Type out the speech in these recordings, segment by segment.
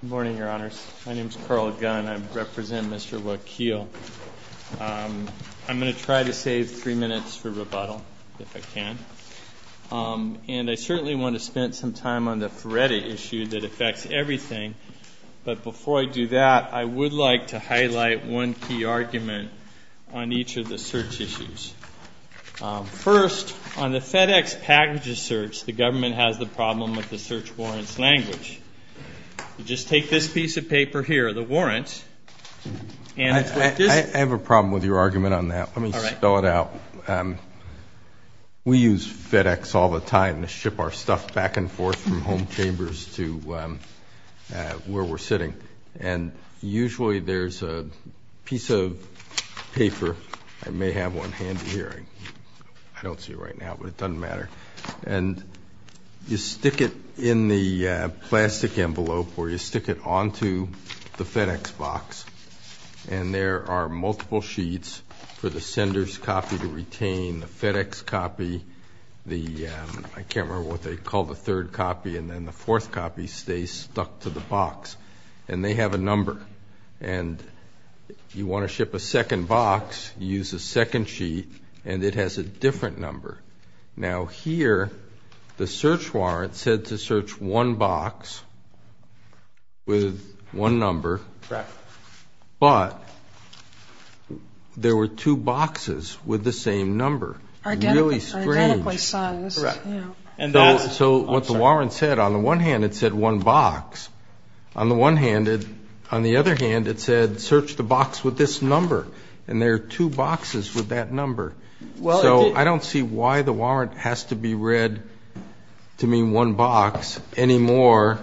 Good morning, Your Honors. My name is Carl Gunn and I represent Mr. Wakil. I'm going to try to save three minutes for rebuttal, if I can. And I certainly want to spend some time on the Feretti issue that affects everything. But before I do that, I would like to highlight one key argument on each of the search issues. First, on the FedEx packages search, the government has the problem with the search warrants language. Just take this piece of paper here, the warrants. I have a problem with your argument on that. Let me spell it out. We use FedEx all the time to ship our stuff back and forth from home chambers to where we're sitting. And usually there's a piece of paper. I may have one handy here. I don't see it right now, but it doesn't matter. And you stick it in the plastic envelope or you stick it onto the FedEx box. And there are multiple sheets for the sender's copy to retain. The FedEx copy, I can't remember what they call the third copy, and then the fourth copy stays stuck to the box. And they have a number. And you want to ship a second box, you use a second sheet, and it has a different number. Now here, the search warrant said to search one box with one number. But there were two boxes with the same number. Really strange. So what the warrant said, on the one hand, it said one box. On the other hand, it said search the box with this number. And there are two boxes with that number. So I don't see why the warrant has to be read to mean one box any more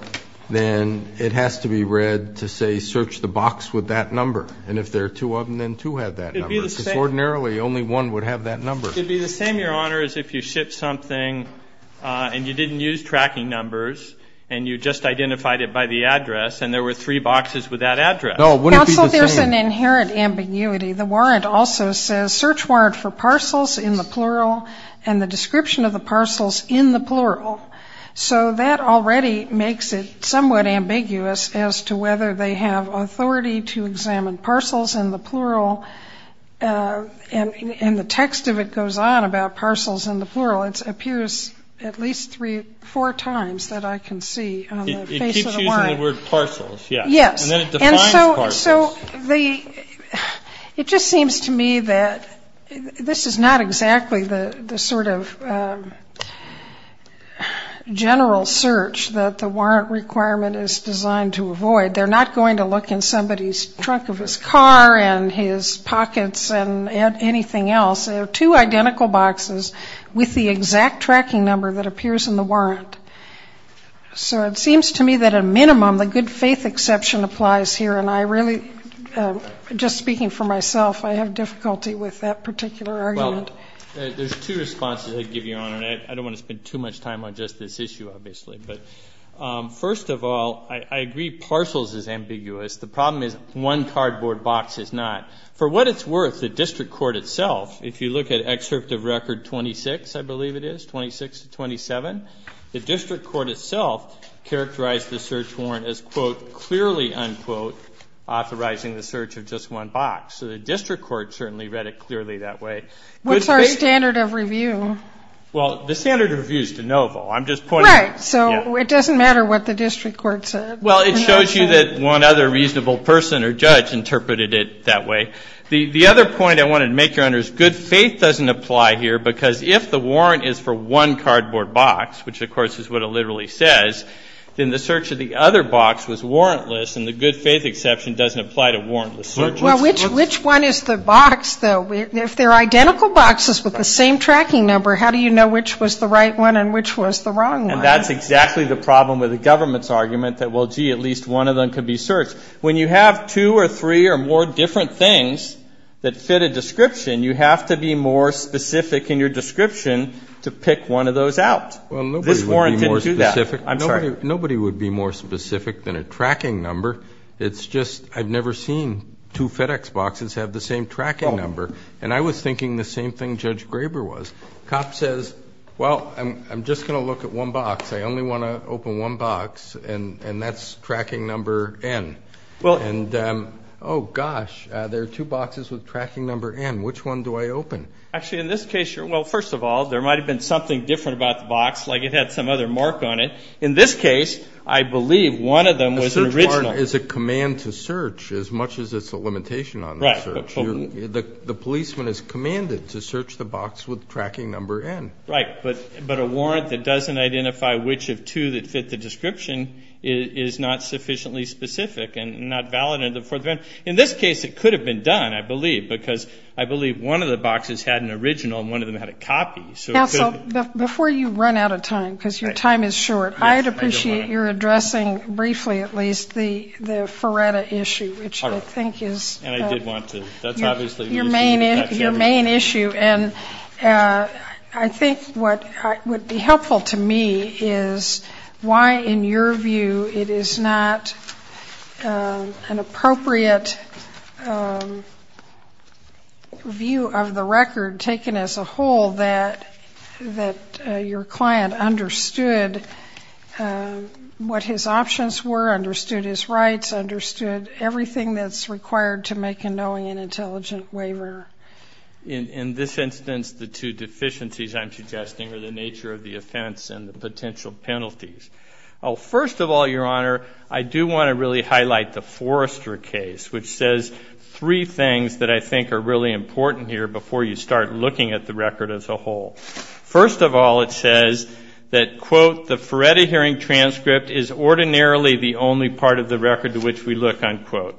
than it has to be read to say search the box with that number. And if there are two of them, then two have that number. Only one would have that number. It would be the same, Your Honor, as if you shipped something and you didn't use tracking numbers and you just identified it by the address and there were three boxes with that address. No, it wouldn't be the same. Counsel, there's an inherent ambiguity. The warrant also says search warrant for parcels in the plural and the description of the parcels in the plural. So that already makes it somewhat ambiguous as to whether they have authority to examine parcels in the plural. And the text of it goes on about parcels in the plural. It appears at least four times that I can see on the face of the warrant. It keeps using the word parcels, yes. Yes. And then it defines parcels. So it just seems to me that this is not exactly the sort of general search that the warrant requirement is designed to avoid. They're not going to look in somebody's trunk of his car and his pockets and anything else. They're two identical boxes with the exact tracking number that appears in the warrant. So it seems to me that a minimum, the good faith exception applies here. And I really, just speaking for myself, I have difficulty with that particular argument. Well, there's two responses I'd give you, Your Honor, and I don't want to spend too much time on just this issue, obviously. But first of all, I agree parcels is ambiguous. The problem is one cardboard box is not. For what it's worth, the district court itself, if you look at excerpt of record 26, I believe it is, 26 to 27, the district court itself characterized the search warrant as, quote, clearly, unquote, authorizing the search of just one box. So the district court certainly read it clearly that way. What's our standard of review? Well, the standard of review is de novo. I'm just pointing out. Right. So it doesn't matter what the district court said. Well, it shows you that one other reasonable person or judge interpreted it that way. The other point I wanted to make, Your Honor, is good faith doesn't apply here, because if the warrant is for one cardboard box, which, of course, is what it literally says, then the search of the other box was warrantless, and the good faith exception doesn't apply to warrantless searches. Well, which one is the box, though? If they're identical boxes with the same tracking number, how do you know which was the right one and which was the wrong one? And that's exactly the problem with the government's argument that, well, gee, at least one of them could be searched. When you have two or three or more different things that fit a description, you have to be more specific in your description to pick one of those out. Well, nobody would be more specific. This warrant didn't do that. I'm sorry. Nobody would be more specific than a tracking number. It's just I've never seen two FedEx boxes have the same tracking number, and I was thinking the same thing Judge Graber was. Cop says, well, I'm just going to look at one box. I only want to open one box, and that's tracking number N. And, oh, gosh, there are two boxes with tracking number N. Which one do I open? Actually, in this case, well, first of all, there might have been something different about the box. Like it had some other mark on it. In this case, I believe one of them was original. A search warrant is a command to search as much as it's a limitation on the search. The policeman is commanded to search the box with tracking number N. Right, but a warrant that doesn't identify which of two that fit the description is not sufficiently specific and not valid in the Fourth Amendment. In this case, it could have been done, I believe, because I believe one of the boxes had an original and one of them had a copy. Counsel, before you run out of time, because your time is short, I would appreciate your addressing briefly at least the Feretta issue, which I think is your main issue. And I think what would be helpful to me is why, in your view, it is not an appropriate view of the record taken as a whole that your client understood what his options were, understood his rights, understood everything that's required to make a knowing and intelligent waiver. In this instance, the two deficiencies I'm suggesting are the nature of the offense and the potential penalties. First of all, Your Honor, I do want to really highlight the Forrester case, which says three things that I think are really important here before you start looking at the record as a whole. First of all, it says that, quote, the Feretta hearing transcript is ordinarily the only part of the record to which we look, unquote.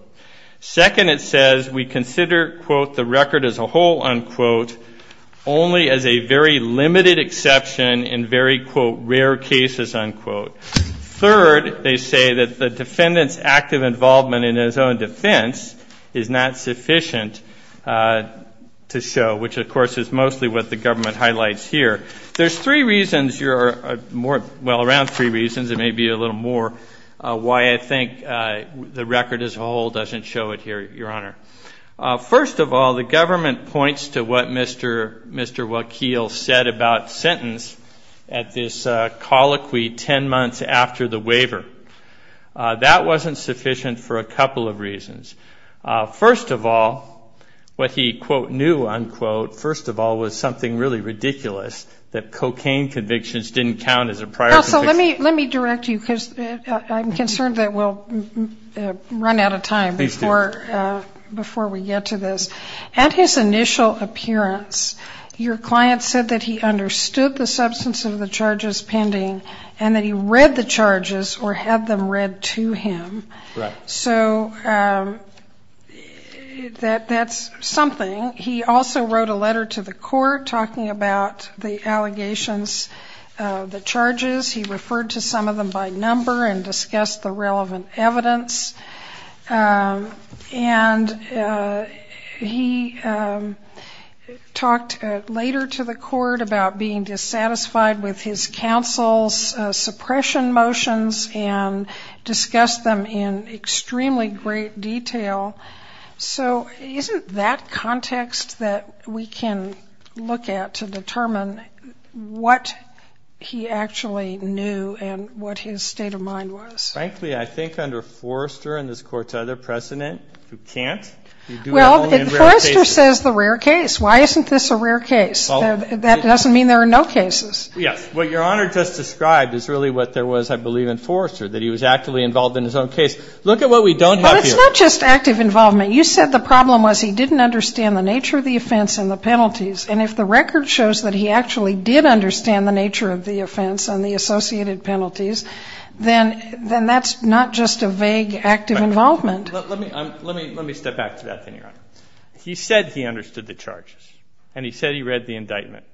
Second, it says we consider, quote, the record as a whole, unquote, only as a very limited exception in very, quote, rare cases, unquote. Third, they say that the defendant's active involvement in his own defense is not sufficient to show, which, of course, is mostly what the government highlights here. There's three reasons, well, around three reasons, and maybe a little more why I think the record as a whole doesn't show it here, Your Honor. First of all, the government points to what Mr. Wakeel said about sentence at this colloquy ten months after the waiver. That wasn't sufficient for a couple of reasons. First of all, what he, quote, knew, unquote, first of all, was something really ridiculous, that cocaine convictions didn't count as a prior conviction. Let me direct you, because I'm concerned that we'll run out of time before we get to this. At his initial appearance, your client said that he understood the substance of the charges pending and that he read the charges or had them read to him. Right. So that's something. He also wrote a letter to the court talking about the allegations, the charges. He referred to some of them by number and discussed the relevant evidence. And he talked later to the court about being dissatisfied with his counsel's suppression motions and discussed them in extremely great detail. So isn't that context that we can look at to determine what he actually knew and what his state of mind was? Frankly, I think under Forrester and this Court's other precedent, you can't. You do it only in rare cases. Well, Forrester says the rare case. Why isn't this a rare case? That doesn't mean there are no cases. Yes. What Your Honor just described is really what there was, I believe, in Forrester, that he was actively involved in his own case. Look at what we don't have here. Well, it's not just active involvement. You said the problem was he didn't understand the nature of the offense and the penalties. And if the record shows that he actually did understand the nature of the offense and the associated penalties, then that's not just a vague active involvement. Let me step back to that thing, Your Honor. He said he understood the charges and he said he read the indictment.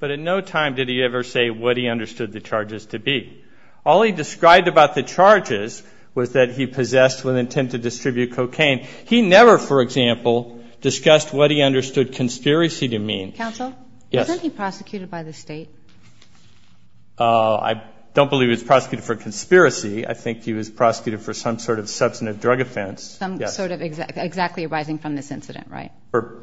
But in no time did he ever say what he understood the charges to be. All he described about the charges was that he possessed with intent to distribute cocaine. He never, for example, discussed what he understood conspiracy to mean. Counsel? Yes. Wasn't he prosecuted by the State? I don't believe he was prosecuted for conspiracy. I think he was prosecuted for some sort of substantive drug offense. Some sort of exactly arising from this incident, right?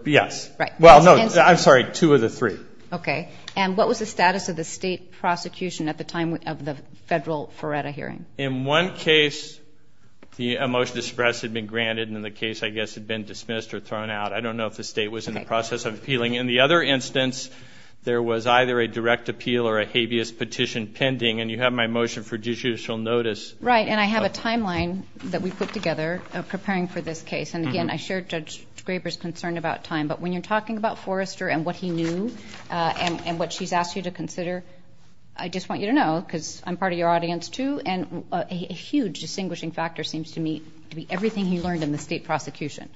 Yes. Right. Well, no, I'm sorry, two of the three. Okay. And what was the status of the State prosecution at the time of the federal Ferretta hearing? In one case, the motion to suppress had been granted and then the case, I guess, had been dismissed or thrown out. I don't know if the State was in the process of appealing. In the other instance, there was either a direct appeal or a habeas petition pending. And you have my motion for judicial notice. Right. And I have a timeline that we put together preparing for this case. And, again, I share Judge Graber's concern about time. But when you're talking about Forrester and what he knew and what she's asked you to consider, I just want you to know, because I'm part of your audience too, and a huge distinguishing factor seems to me to be everything he learned in the State prosecution.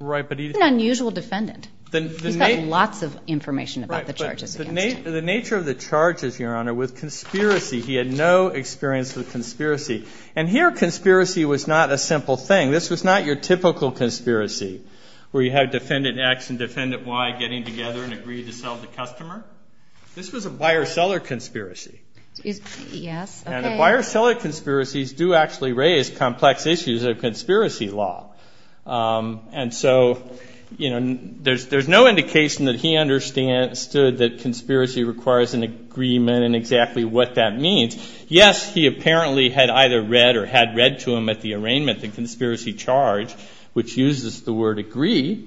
Right. He's an unusual defendant. He's got lots of information about the charges against him. The nature of the charges, Your Honor, was conspiracy. He had no experience with conspiracy. And here conspiracy was not a simple thing. This was not your typical conspiracy where you had Defendant X and Defendant Y getting together and agreed to sell the customer. This was a buyer-seller conspiracy. Yes. Okay. And the buyer-seller conspiracies do actually raise complex issues of conspiracy law. And so, you know, there's no indication that he understood that conspiracy requires an agreement and exactly what that means. Yes, he apparently had either read or had read to him at the arraignment the conspiracy charge, which uses the word agree.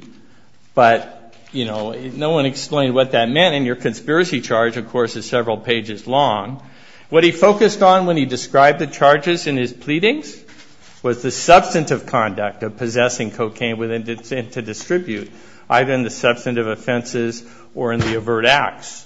But, you know, no one explained what that meant. And your conspiracy charge, of course, is several pages long. What he focused on when he described the charges in his pleadings was the substantive conduct of possessing cocaine to distribute, either in the substantive offenses or in the overt acts.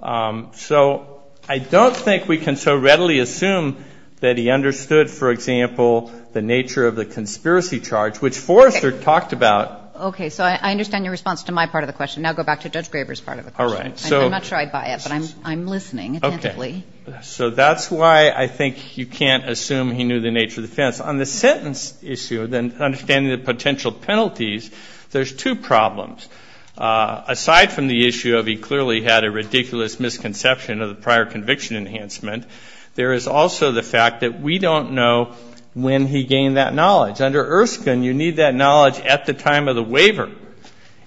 So I don't think we can so readily assume that he understood, for example, the nature of the conspiracy charge, which Forrester talked about. Okay. So I understand your response to my part of the question. Now go back to Judge Graber's part of the question. All right. I'm not sure I buy it, but I'm listening attentively. Okay. So that's why I think you can't assume he knew the nature of the offense. On the sentence issue, then understanding the potential penalties, there's two problems. Aside from the issue of he clearly had a ridiculous misconception of the prior conviction enhancement, there is also the fact that we don't know when he gained that knowledge. Under Erskine, you need that knowledge at the time of the waiver.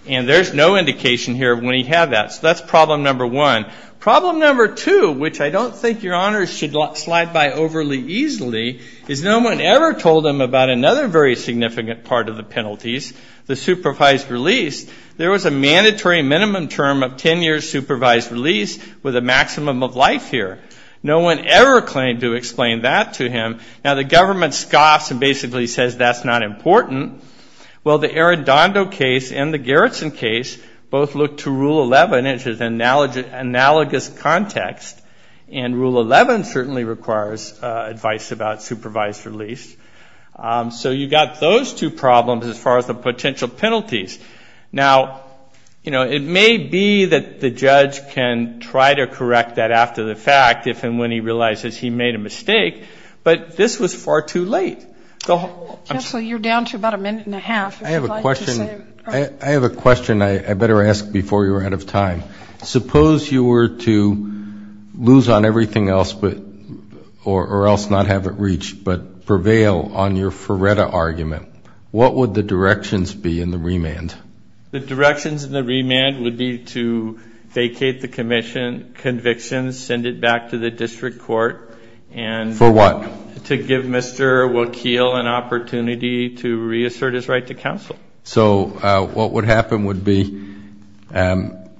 And there's no indication here of when he had that. So that's problem number one. Problem number two, which I don't think your honors should slide by overly easily, is no one ever told him about another very significant part of the penalties, the supervised release. There was a mandatory minimum term of 10 years supervised release with a maximum of life here. No one ever claimed to explain that to him. Now the government scoffs and basically says that's not important. Well, the Arredondo case and the Garrison case both look to Rule 11, which is analogous context. And Rule 11 certainly requires advice about supervised release. So you've got those two problems as far as the potential penalties. Now, you know, it may be that the judge can try to correct that after the fact if and when he realizes he made a mistake, but this was far too late. Counsel, you're down to about a minute and a half. I have a question. I have a question I better ask before you're out of time. Suppose you were to lose on everything else or else not have it reached, but prevail on your Ferretta argument, what would the directions be in the remand? The directions in the remand would be to vacate the conviction, send it back to the district court. For what? To give Mr. Wakeel an opportunity to reassert his right to counsel. So what would happen would be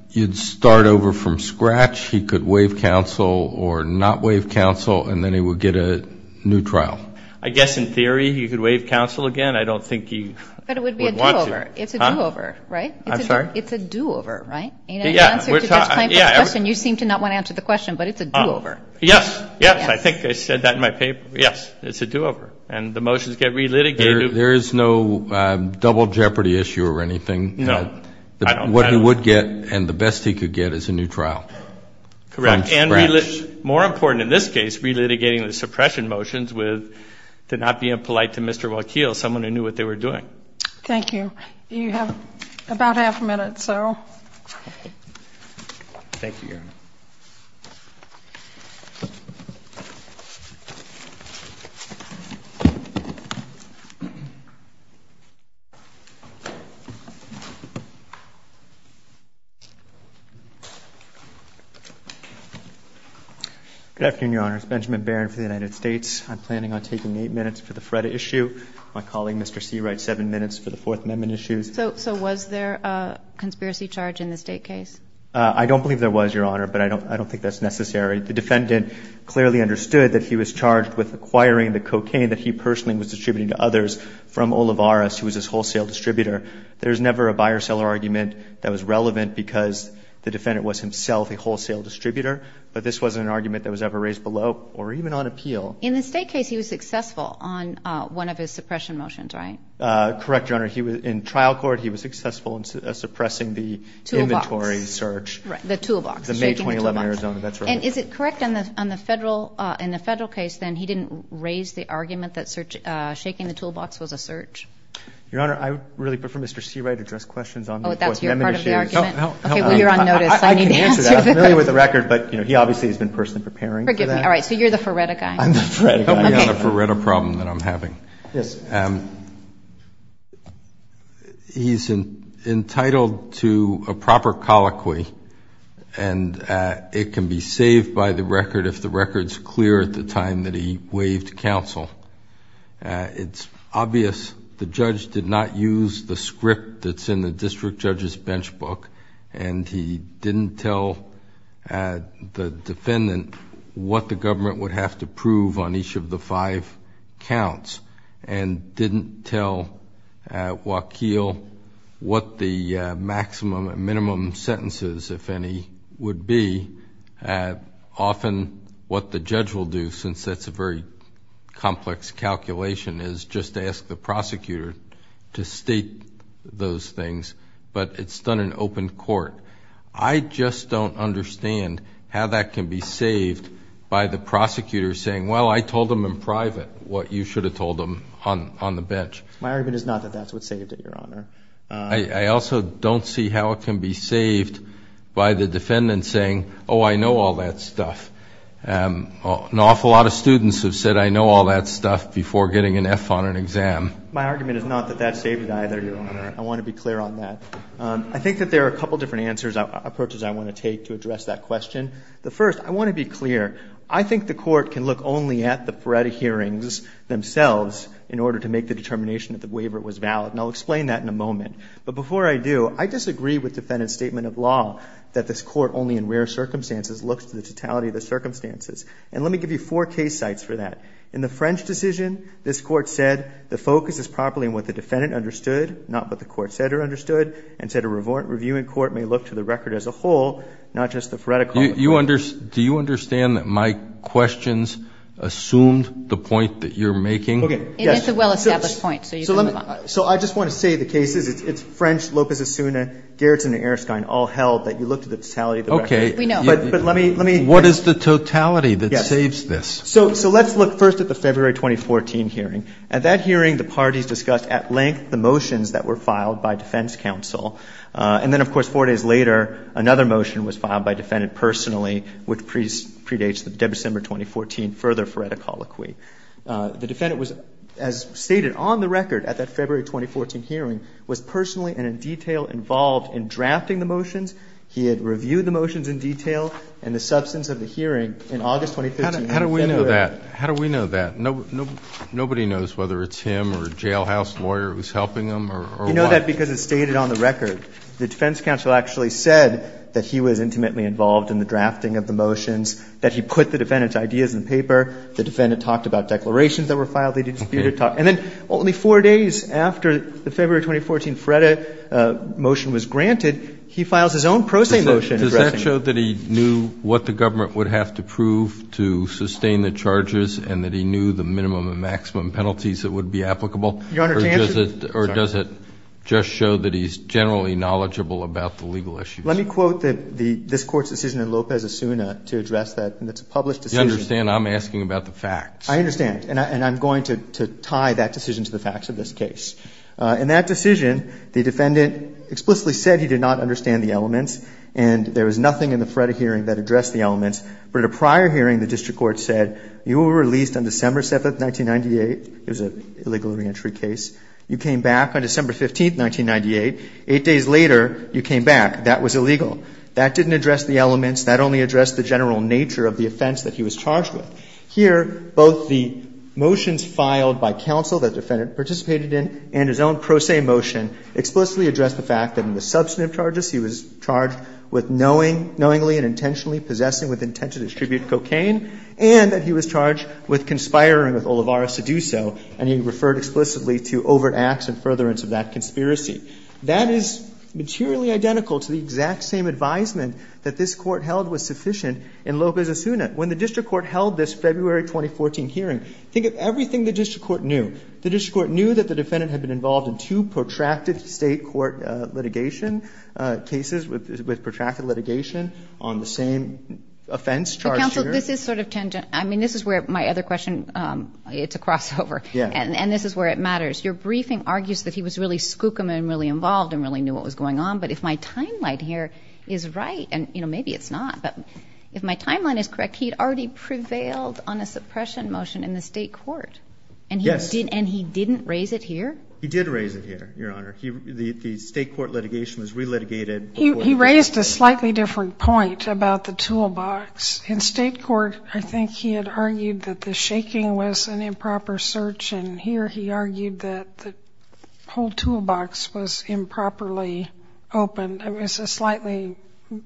you'd start over from scratch. He could waive counsel or not waive counsel, and then he would get a new trial. I guess in theory he could waive counsel again. I don't think he would want to. But it would be a do-over. It's a do-over, right? I'm sorry? It's a do-over, right? In answer to Judge Kleinfeld's question, you seem to not want to answer the question, but it's a do-over. Yes. Yes. I think I said that in my paper. Yes. It's a do-over. And the motions get relitigated. There is no double jeopardy issue or anything. No. What he would get and the best he could get is a new trial. Correct. And more important in this case, relitigating the suppression motions with not being polite to Mr. Wakeel, someone who knew what they were doing. Thank you. You have about half a minute, so. Thank you, Your Honor. Good afternoon, Your Honor. It's Benjamin Barron for the United States. I'm planning on taking eight minutes for the FREDA issue. My colleague, Mr. Seawright, seven minutes for the Fourth Amendment issues. So was there a conspiracy charge in the State case? I don't believe there was, Your Honor, but I don't think that's necessary. The defendant clearly understood that he was charged with acquiring the cocaine that he personally was distributing to others from Olivares, who was his wholesale distributor. There's never a buyer-seller argument that was relevant because the defendant was himself a wholesale distributor, but this wasn't an argument that was ever raised below or even on appeal. In the State case, he was successful on one of his suppression motions, right? Correct, Your Honor. In trial court, he was successful in suppressing the inventory search. Toolbox. The toolbox. The May 2011 Arizona. That's right. And is it correct in the Federal case, then, he didn't raise the argument that shaking the toolbox was a search? Your Honor, I would really prefer Mr. Seawright address questions on the Fourth Amendment issues. Oh, that's your part of the argument? Okay, well, you're on notice. I can answer that. I'm familiar with the record, but he obviously has been personally preparing for that. Forgive me. All right, so you're the FREDA guy. I'm the FREDA guy. Okay. I have a FREDA problem that I'm having. Yes. He's entitled to a proper colloquy, and it can be saved by the record if the record's clear at the time that he waived counsel. It's obvious the judge did not use the script that's in the district judge's bench book, and he didn't tell the defendant what the government would have to do if there were five counts, and didn't tell Waukeel what the maximum and minimum sentences, if any, would be. Often what the judge will do, since that's a very complex calculation, is just ask the prosecutor to state those things, but it's done in open court. I just don't understand how that can be saved by the prosecutor saying, well, I told them in private what you should have told them on the bench. My argument is not that that's what saved it, Your Honor. I also don't see how it can be saved by the defendant saying, oh, I know all that stuff. An awful lot of students have said, I know all that stuff, before getting an F on an exam. My argument is not that that saved it either, Your Honor. I want to be clear on that. I think that there are a couple different approaches I want to take to address that question. The first, I want to be clear. I think the court can look only at the Feretta hearings themselves in order to make the determination that the waiver was valid, and I'll explain that in a moment. But before I do, I disagree with the defendant's statement of law that this court only in rare circumstances looks to the totality of the circumstances. And let me give you four case sites for that. In the French decision, this court said the focus is properly on what the defendant understood, not what the court said or understood, and said a review in court may look to the record as a whole, not just the Feretta court. Do you understand that my questions assumed the point that you're making? Okay. It is a well-established point, so you can move on. So I just want to say the cases, it's French, Lopez-Asuna, Gerritsen, and Erskine all held that you looked at the totality of the record. Okay. We know. But let me, let me. What is the totality that saves this? Yes. So let's look first at the February 2014 hearing. At that hearing, the parties discussed at length the motions that were filed by defense counsel. And then, of course, four days later, another motion was filed by defendant personally, which predates the December 2014 further Feretta colloquy. The defendant was, as stated on the record at that February 2014 hearing, was personally and in detail involved in drafting the motions. He had reviewed the motions in detail and the substance of the hearing in August 2015. How do we know that? How do we know that? Nobody knows whether it's him or a jailhouse lawyer who's helping him or what? Well, we know that because it's stated on the record. The defense counsel actually said that he was intimately involved in the drafting of the motions, that he put the defendant's ideas in the paper. The defendant talked about declarations that were filed. They disputed talks. And then only four days after the February 2014 Feretta motion was granted, he files his own pro se motion. Does that show that he knew what the government would have to prove to sustain the charges and that he knew the minimum and maximum penalties that would be applicable? Your Honor, to answer? Or does it just show that he's generally knowledgeable about the legal issues? Let me quote this Court's decision in Lopez-Asuna to address that. And it's a published decision. You understand I'm asking about the facts. I understand. And I'm going to tie that decision to the facts of this case. In that decision, the defendant explicitly said he did not understand the elements and there was nothing in the Feretta hearing that addressed the elements. But at a prior hearing, the district court said you were released on December 7th, 1998. It was an illegal reentry case. You came back on December 15th, 1998. Eight days later, you came back. That was illegal. That didn't address the elements. That only addressed the general nature of the offense that he was charged with. Here, both the motions filed by counsel that the defendant participated in and his own pro se motion explicitly address the fact that in the substantive charges he was charged with knowingly and intentionally possessing with intent to distribute explicitly to overt acts and furtherance of that conspiracy. That is materially identical to the exact same advisement that this Court held was sufficient in Lopez-Asuna. When the district court held this February 2014 hearing, think of everything the district court knew. The district court knew that the defendant had been involved in two protracted State court litigation cases with protracted litigation on the same offense charged here. This is sort of tangent. I mean, this is where my other question, it's a crossover. Yeah. And this is where it matters. Your briefing argues that he was really skookum and really involved and really knew what was going on. But if my timeline here is right, and, you know, maybe it's not, but if my timeline is correct, he had already prevailed on a suppression motion in the State court. Yes. And he didn't raise it here? He did raise it here, Your Honor. The State court litigation was re-litigated. He raised a slightly different point about the toolbox. In State court, I think he had argued that the shaking was an improper search, and here he argued that the whole toolbox was improperly opened. It was a slightly,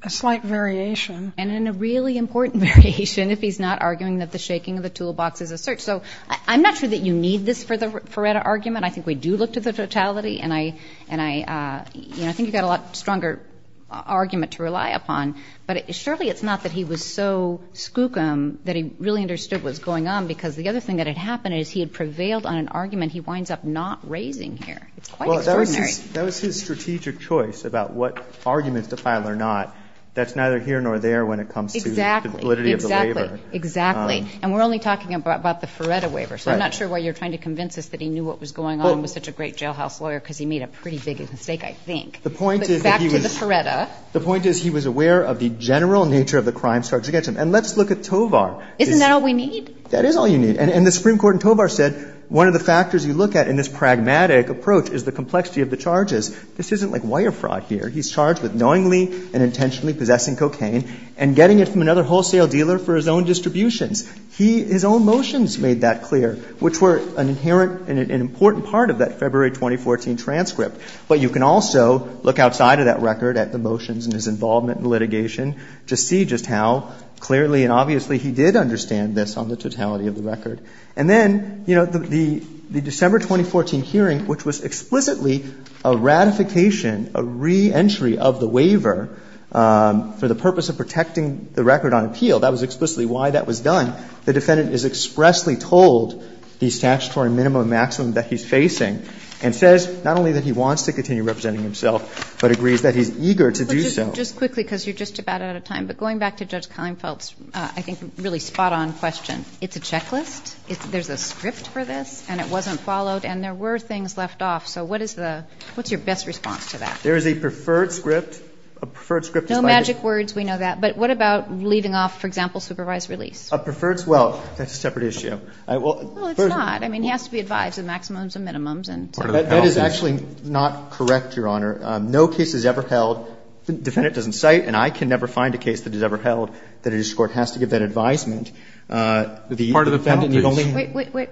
a slight variation. And in a really important variation, if he's not arguing that the shaking of the toolbox is a search. So I'm not sure that you need this for the Feretta argument. I think we do look to the totality, and I, you know, I think you've got a lot stronger argument to rely upon. But surely it's not that he was so skookum that he really understood what was going on, because the other thing that had happened is he had prevailed on an argument he winds up not raising here. It's quite extraordinary. Well, that was his strategic choice about what arguments to file or not. That's neither here nor there when it comes to the validity of the waiver. Exactly. Exactly. And we're only talking about the Feretta waiver. Right. So I'm not sure why you're trying to convince us that he knew what was going on and was such a great jailhouse lawyer because he made a pretty big mistake, I think. The point is that he was. Back to the Feretta. The point is he was aware of the general nature of the crimes charged against him. And let's look at Tovar. Isn't that all we need? That is all you need. And the Supreme Court in Tovar said one of the factors you look at in this pragmatic approach is the complexity of the charges. This isn't like wire fraud here. He's charged with knowingly and intentionally possessing cocaine and getting it from another wholesale dealer for his own distributions. He, his own motions made that clear, which were an inherent and an important part of that February 2014 transcript. But you can also look outside of that record at the motions and his involvement in litigation to see just how clearly and obviously he did understand this on the totality of the record. And then, you know, the December 2014 hearing, which was explicitly a ratification, a reentry of the waiver for the purpose of protecting the record on appeal, that was explicitly why that was done. The defendant is expressly told the statutory minimum and maximum that he's facing and says not only that he wants to continue representing himself, but agrees that he's eager to do so. But just quickly, because you're just about out of time, but going back to Judge Klinefeld's, I think, really spot-on question, it's a checklist, there's a script for this, and it wasn't followed, and there were things left off. So what is the, what's your best response to that? There is a preferred script, a preferred script. No magic words. We know that. But what about leaving off, for example, supervised release? A preferred, well, that's a separate issue. Well, it's not. I mean, he has to be advised of maximums and minimums and so forth. That is actually not correct, Your Honor. No case is ever held, the defendant doesn't cite, and I can never find a case that is ever held that a district court has to give that advisement. Part of the penalty is. Wait, wait, wait.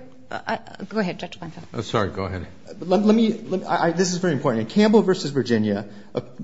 Go ahead, Judge Klinefeld. I'm sorry. Go ahead. Let me, this is very important. In Campbell v. Virginia,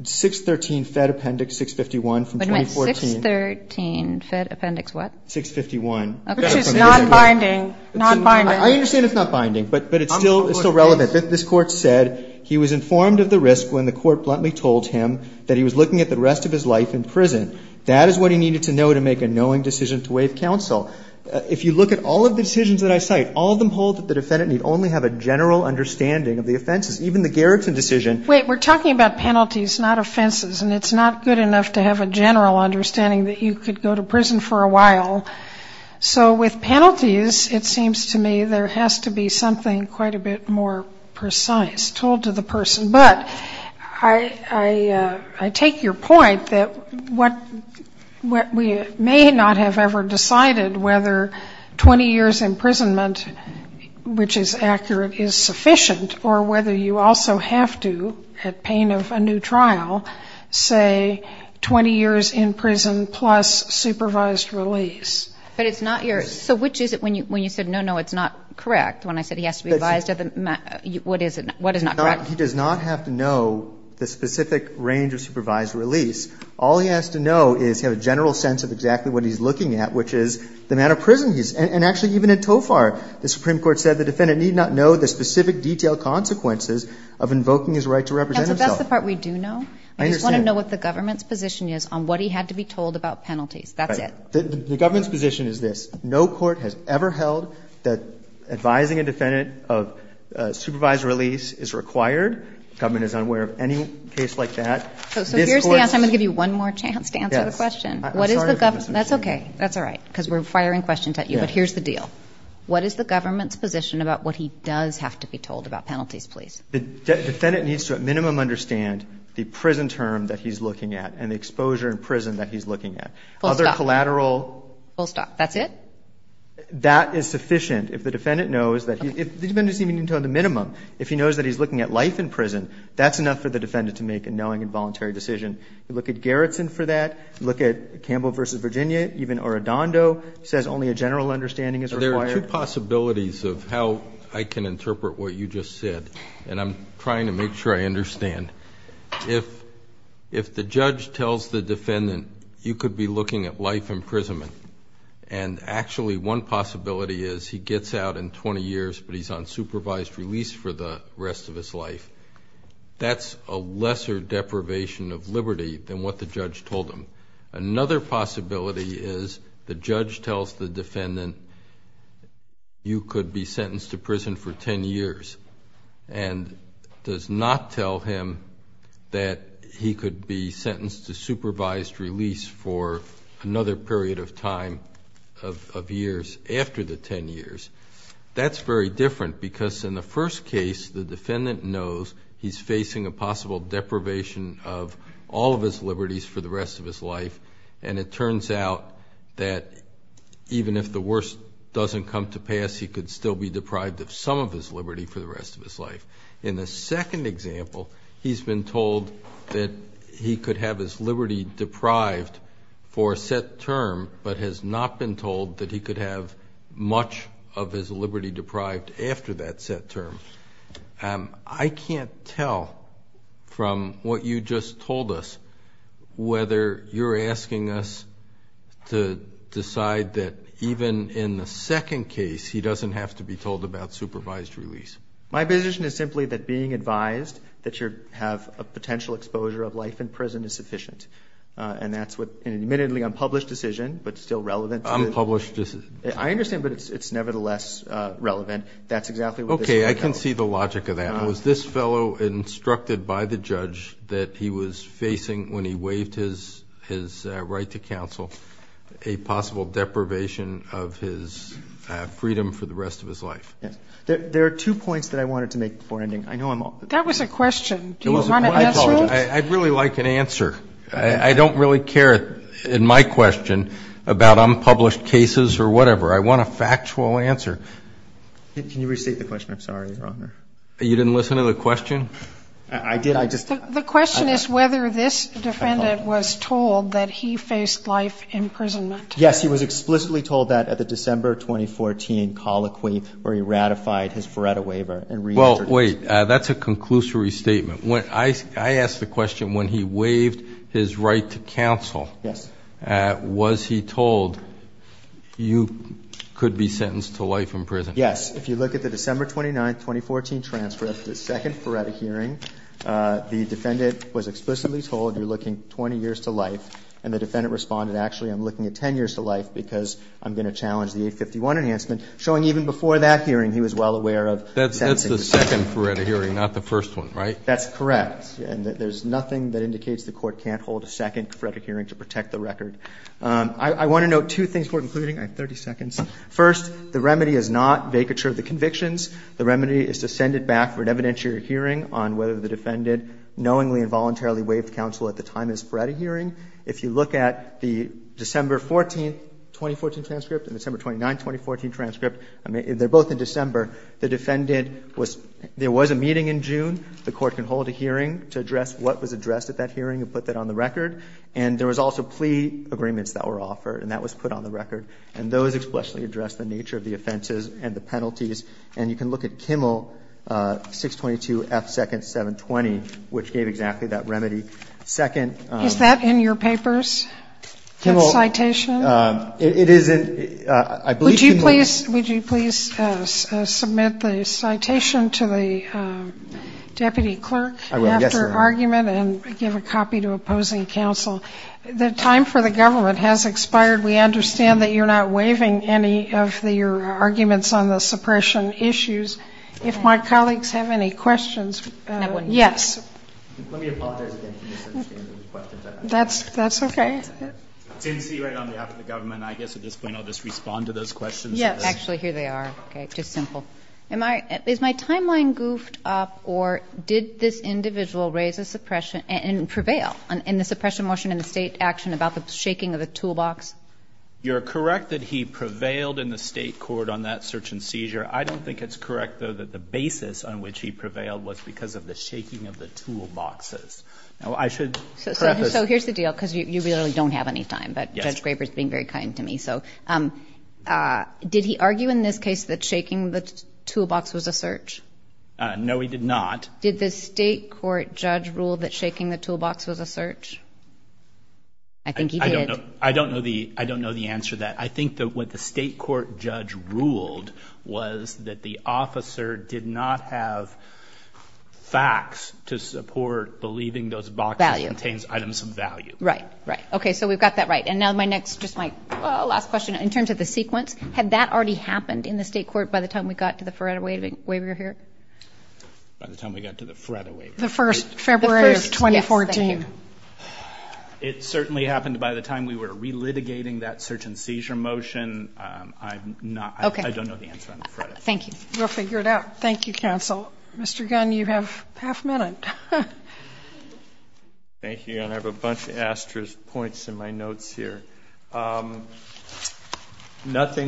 613 Fed Appendix 651 from 2014. What do you mean? 613 Fed Appendix what? 651. Okay. Which is nonbinding, nonbinding. I understand it's not binding, but it's still relevant. This Court said he was informed of the risk when the Court bluntly told him that he was looking at the rest of his life in prison. That is what he needed to know to make a knowing decision to waive counsel. If you look at all of the decisions that I cite, all of them hold that the defendant need only have a general understanding of the offenses. Even the Garrison decision. Wait. We're talking about penalties, not offenses, and it's not good enough to have a general understanding that you could go to prison for a while. So with penalties, it seems to me there has to be something quite a bit more precise told to the person. But I take your point that what we may not have ever decided whether 20 years imprisonment, which is accurate, is sufficient, or whether you also have to, at pain of a new trial, say 20 years in prison plus supervised release. But it's not your – so which is it when you said, no, no, it's not correct, when I said he has to be advised of the – what is it? What is not correct? He does not have to know the specific range of supervised release. All he has to know is he has a general sense of exactly what he's looking at, which is the amount of prison he's – and actually, even in TOFR, the Supreme Court said the defendant need not know the specific detailed consequences of invoking his right to represent himself. That's the part we do know. I just want to know what the government's position is on what he had to be told about penalties. That's it. The government's position is this. No court has ever held that advising a defendant of supervised release is required. The government is unaware of any case like that. So here's the answer. I'm going to give you one more chance to answer the question. What is the government – that's okay. That's all right, because we're firing questions at you. But here's the deal. What is the government's position about what he does have to be told about penalties, please? The defendant needs to at minimum understand the prison term that he's looking at and the exposure in prison that he's looking at. Full stop. Other collateral. Full stop. That's it? That is sufficient. If the defendant knows that he – the defendant doesn't even need to know the minimum. If he knows that he's looking at life in prison, that's enough for the defendant to make a knowing and voluntary decision. You look at Gerritsen for that. You look at Campbell v. Virginia. Even Orodondo says only a general understanding is required. There are two possibilities of how I can interpret what you just said, and I'm trying to make sure I understand. If the judge tells the defendant you could be looking at life imprisonment and actually one possibility is he gets out in 20 years, but he's on supervised release for the rest of his life, that's a lesser deprivation of liberty than what the judge told him. Another possibility is the judge tells the defendant you could be sentenced to prison for 10 years and does not tell him that he could be sentenced to supervised release for another period of time of years after the 10 years. That's very different because in the first case, the defendant knows he's facing a possible deprivation of all of his liberties for the rest of his life, and it turns out that even if the worst doesn't come to pass, he could still be deprived of some of his liberty for the rest of his life. In the second example, he's been told that he could have his liberty deprived for a set term but has not been told that he could have much of his liberty deprived after that set term. I can't tell from what you just told us whether you're asking us to decide that even in the second case he doesn't have to be told about supervised release. My position is simply that being advised that you have a potential exposure of life in prison is sufficient, and that's an admittedly unpublished decision but still relevant. Unpublished decision. I understand, but it's nevertheless relevant. That's exactly what this fellow said. Okay. I can see the logic of that. Was this fellow instructed by the judge that he was facing, when he waived his right to counsel, a possible deprivation of his freedom for the rest of his life? Yes. There are two points that I wanted to make before ending. I know I'm off. That was a question. I apologize. I'd really like an answer. I don't really care in my question about unpublished cases or whatever. I want a factual answer. Can you restate the question? I'm sorry, Your Honor. You didn't listen to the question? I did. The question is whether this defendant was told that he faced life imprisonment. Yes. He was explicitly told that at the December 2014 colloquy where he ratified his Feretta waiver and reintroduced it. Well, wait. That's a conclusory statement. I asked the question, when he waived his right to counsel, was he told, you could be sentenced to life in prison? Yes. If you look at the December 29, 2014 transcript, the second Feretta hearing, the defendant was explicitly told, you're looking 20 years to life. And the defendant responded, actually, I'm looking at 10 years to life because I'm going to challenge the 851 enhancement, showing even before that hearing he was well aware of sentencing. That's the second Feretta hearing, not the first one, right? That's correct. And there's nothing that indicates the court can't hold a second Feretta hearing to protect the record. I want to note two things before concluding. I have 30 seconds. First, the remedy is not vacature of the convictions. The remedy is to send it back for an evidentiary hearing on whether the defendant knowingly and voluntarily waived counsel at the time of his Feretta hearing. If you look at the December 14, 2014 transcript and December 29, 2014 transcript, they're both in December. The defendant was – there was a meeting in June. The court can hold a hearing to address what was addressed at that hearing and put that on the record. And there was also plea agreements that were offered, and that was put on the record. And those expressly addressed the nature of the offenses and the penalties. And you can look at Kimmel 622 F. 2nd. 720, which gave exactly that remedy. Second – Is that in your papers, that citation? Kimmel – it is in – I believe Kimmel – Would you please – would you please submit the citation to the deputy clerk after argument? Yes, ma'am. And then give a copy to opposing counsel. The time for the government has expired. We understand that you're not waiving any of your arguments on the suppression issues. If my colleagues have any questions, yes. Let me apologize again for misunderstanding the questions. That's okay. It's NC right on behalf of the government. I guess at this point I'll just respond to those questions. Yes. Actually, here they are. Okay. Just simple. Is my timeline goofed up or did this individual raise a suppression and prevail in the suppression motion in the state action about the shaking of the toolbox? You're correct that he prevailed in the state court on that search and seizure. I don't think it's correct, though, that the basis on which he prevailed was because of the shaking of the toolboxes. Now, I should preface – So here's the deal, because you really don't have any time. But Judge Graber is being very kind to me. Did he argue in this case that shaking the toolbox was a search? No, he did not. Did the state court judge rule that shaking the toolbox was a search? I think he did. I don't know the answer to that. I think what the state court judge ruled was that the officer did not have facts to support believing those boxes contains items of value. Right. Right. Okay, so we've got that right. And now my next, just my last question, in terms of the sequence, had that already happened in the state court by the time we got to the FREDA waiver here? By the time we got to the FREDA waiver? The first February of 2014. It certainly happened by the time we were relitigating that search and seizure motion. I don't know the answer on the FREDA. Thank you. We'll figure it out. Thank you, counsel. Mr. Gunn, you have half a minute. Thank you, and I have a bunch of asterisk points in my notes here. Nothing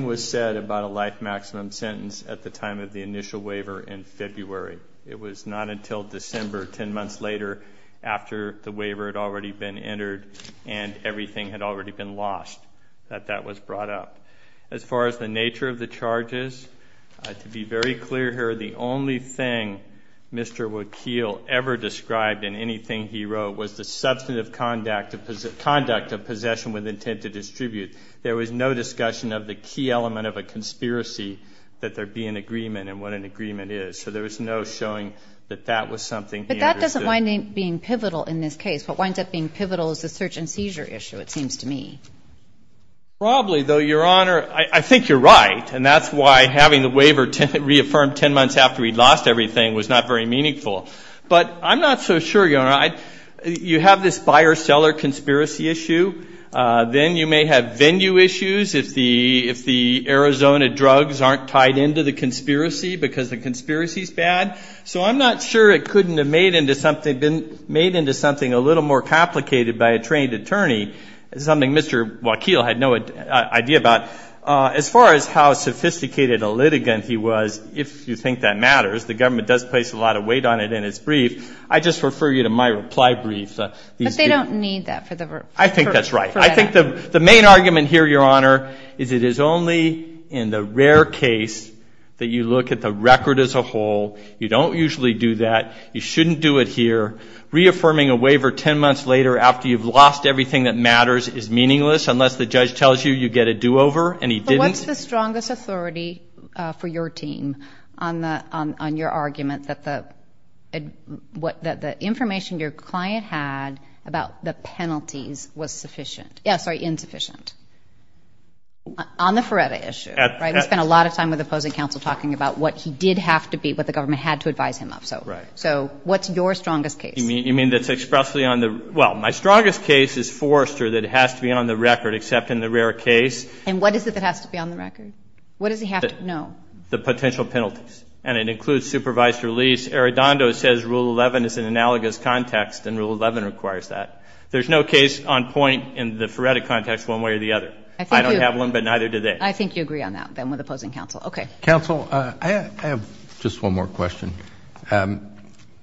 was said about a life maximum sentence at the time of the initial waiver in February. It was not until December, 10 months later, after the waiver had already been entered and everything had already been lost, that that was brought up. As far as the nature of the charges, to be very clear here, the only thing Mr. Wakeel ever described in anything he wrote was the substantive conduct of possession with intent to distribute. There was no discussion of the key element of a conspiracy, that there be an agreement and what an agreement is. So there was no showing that that was something he understood. But that doesn't wind up being pivotal in this case. What winds up being pivotal is the search and seizure issue, it seems to me. Probably, though, Your Honor, I think you're right, and that's why having the waiver reaffirmed 10 months after he'd lost everything was not very meaningful. But I'm not so sure, Your Honor. You have this buyer-seller conspiracy issue. Then you may have venue issues if the Arizona drugs aren't tied into the conspiracy, because the conspiracy is bad. So I'm not sure it couldn't have been made into something a little more complicated by a trained attorney, something Mr. Wakeel had no idea about. As far as how sophisticated a litigant he was, if you think that matters, the government does place a lot of weight on it in its brief. I just refer you to my reply brief. But they don't need that for the verdict. I think that's right. I think the main argument here, Your Honor, is it is only in the rare case that you look at the record as a whole. You don't usually do that. You shouldn't do it here. Reaffirming a waiver 10 months later after you've lost everything that matters is meaningless unless the judge tells you you get a do-over and he didn't. But what's the strongest authority for your team on your argument that the information your client had about the penalties was insufficient? On the Feretta issue, right? We spent a lot of time with the opposing counsel talking about what he did have to be, what the government had to advise him of. So what's your strongest case? You mean that's expressly on the, well, my strongest case is Forrester that has to be on the record except in the rare case. And what is it that has to be on the record? What does he have to know? The potential penalties. And it includes supervised release. Arradondo says Rule 11 is an analogous context and Rule 11 requires that. There's no case on point in the Feretta context one way or the other. I don't have one, but neither do they. I think you agree on that then with opposing counsel. Okay. Counsel, I have just one more question.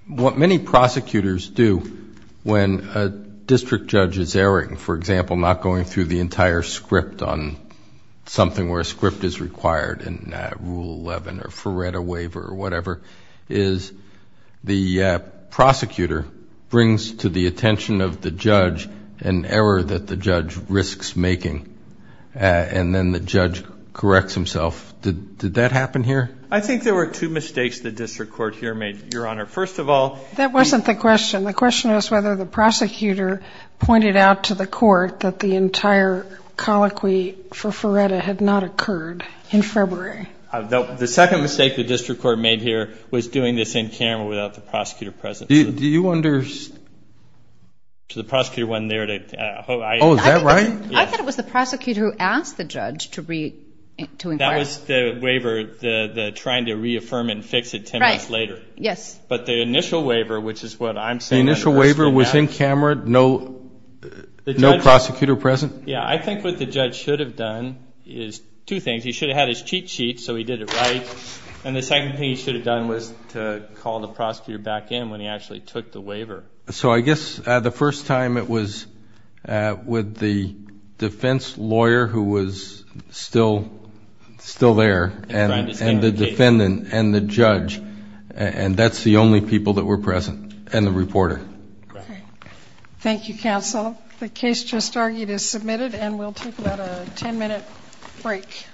What many prosecutors do when a district judge is erring, for example, not going through the entire script on something where a script is required in Rule 11 or Feretta waiver or whatever, is the prosecutor brings to the attention of the judge an error that the judge risks making, and then the judge corrects himself. Did that happen here? I think there were two mistakes the district court here made, Your Honor. First of all. That wasn't the question. The question was whether the prosecutor pointed out to the court that the entire colloquy for Feretta had not occurred in February. The second mistake the district court made here was doing this in camera without the prosecutor present. Do you understand? The prosecutor wasn't there. Oh, is that right? I thought it was the prosecutor who asked the judge to inquire. No, that was the waiver, the trying to reaffirm and fix it 10 months later. Yes. But the initial waiver, which is what I'm saying. The initial waiver was in camera, no prosecutor present? Yeah. I think what the judge should have done is two things. He should have had his cheat sheet so he did it right, and the second thing he should have done was to call the prosecutor back in when he actually took the waiver. So I guess the first time it was with the defense lawyer who was still there and the defendant and the judge, and that's the only people that were present and the reporter. Thank you, counsel. The case just argued is submitted, and we'll take about a 10-minute break.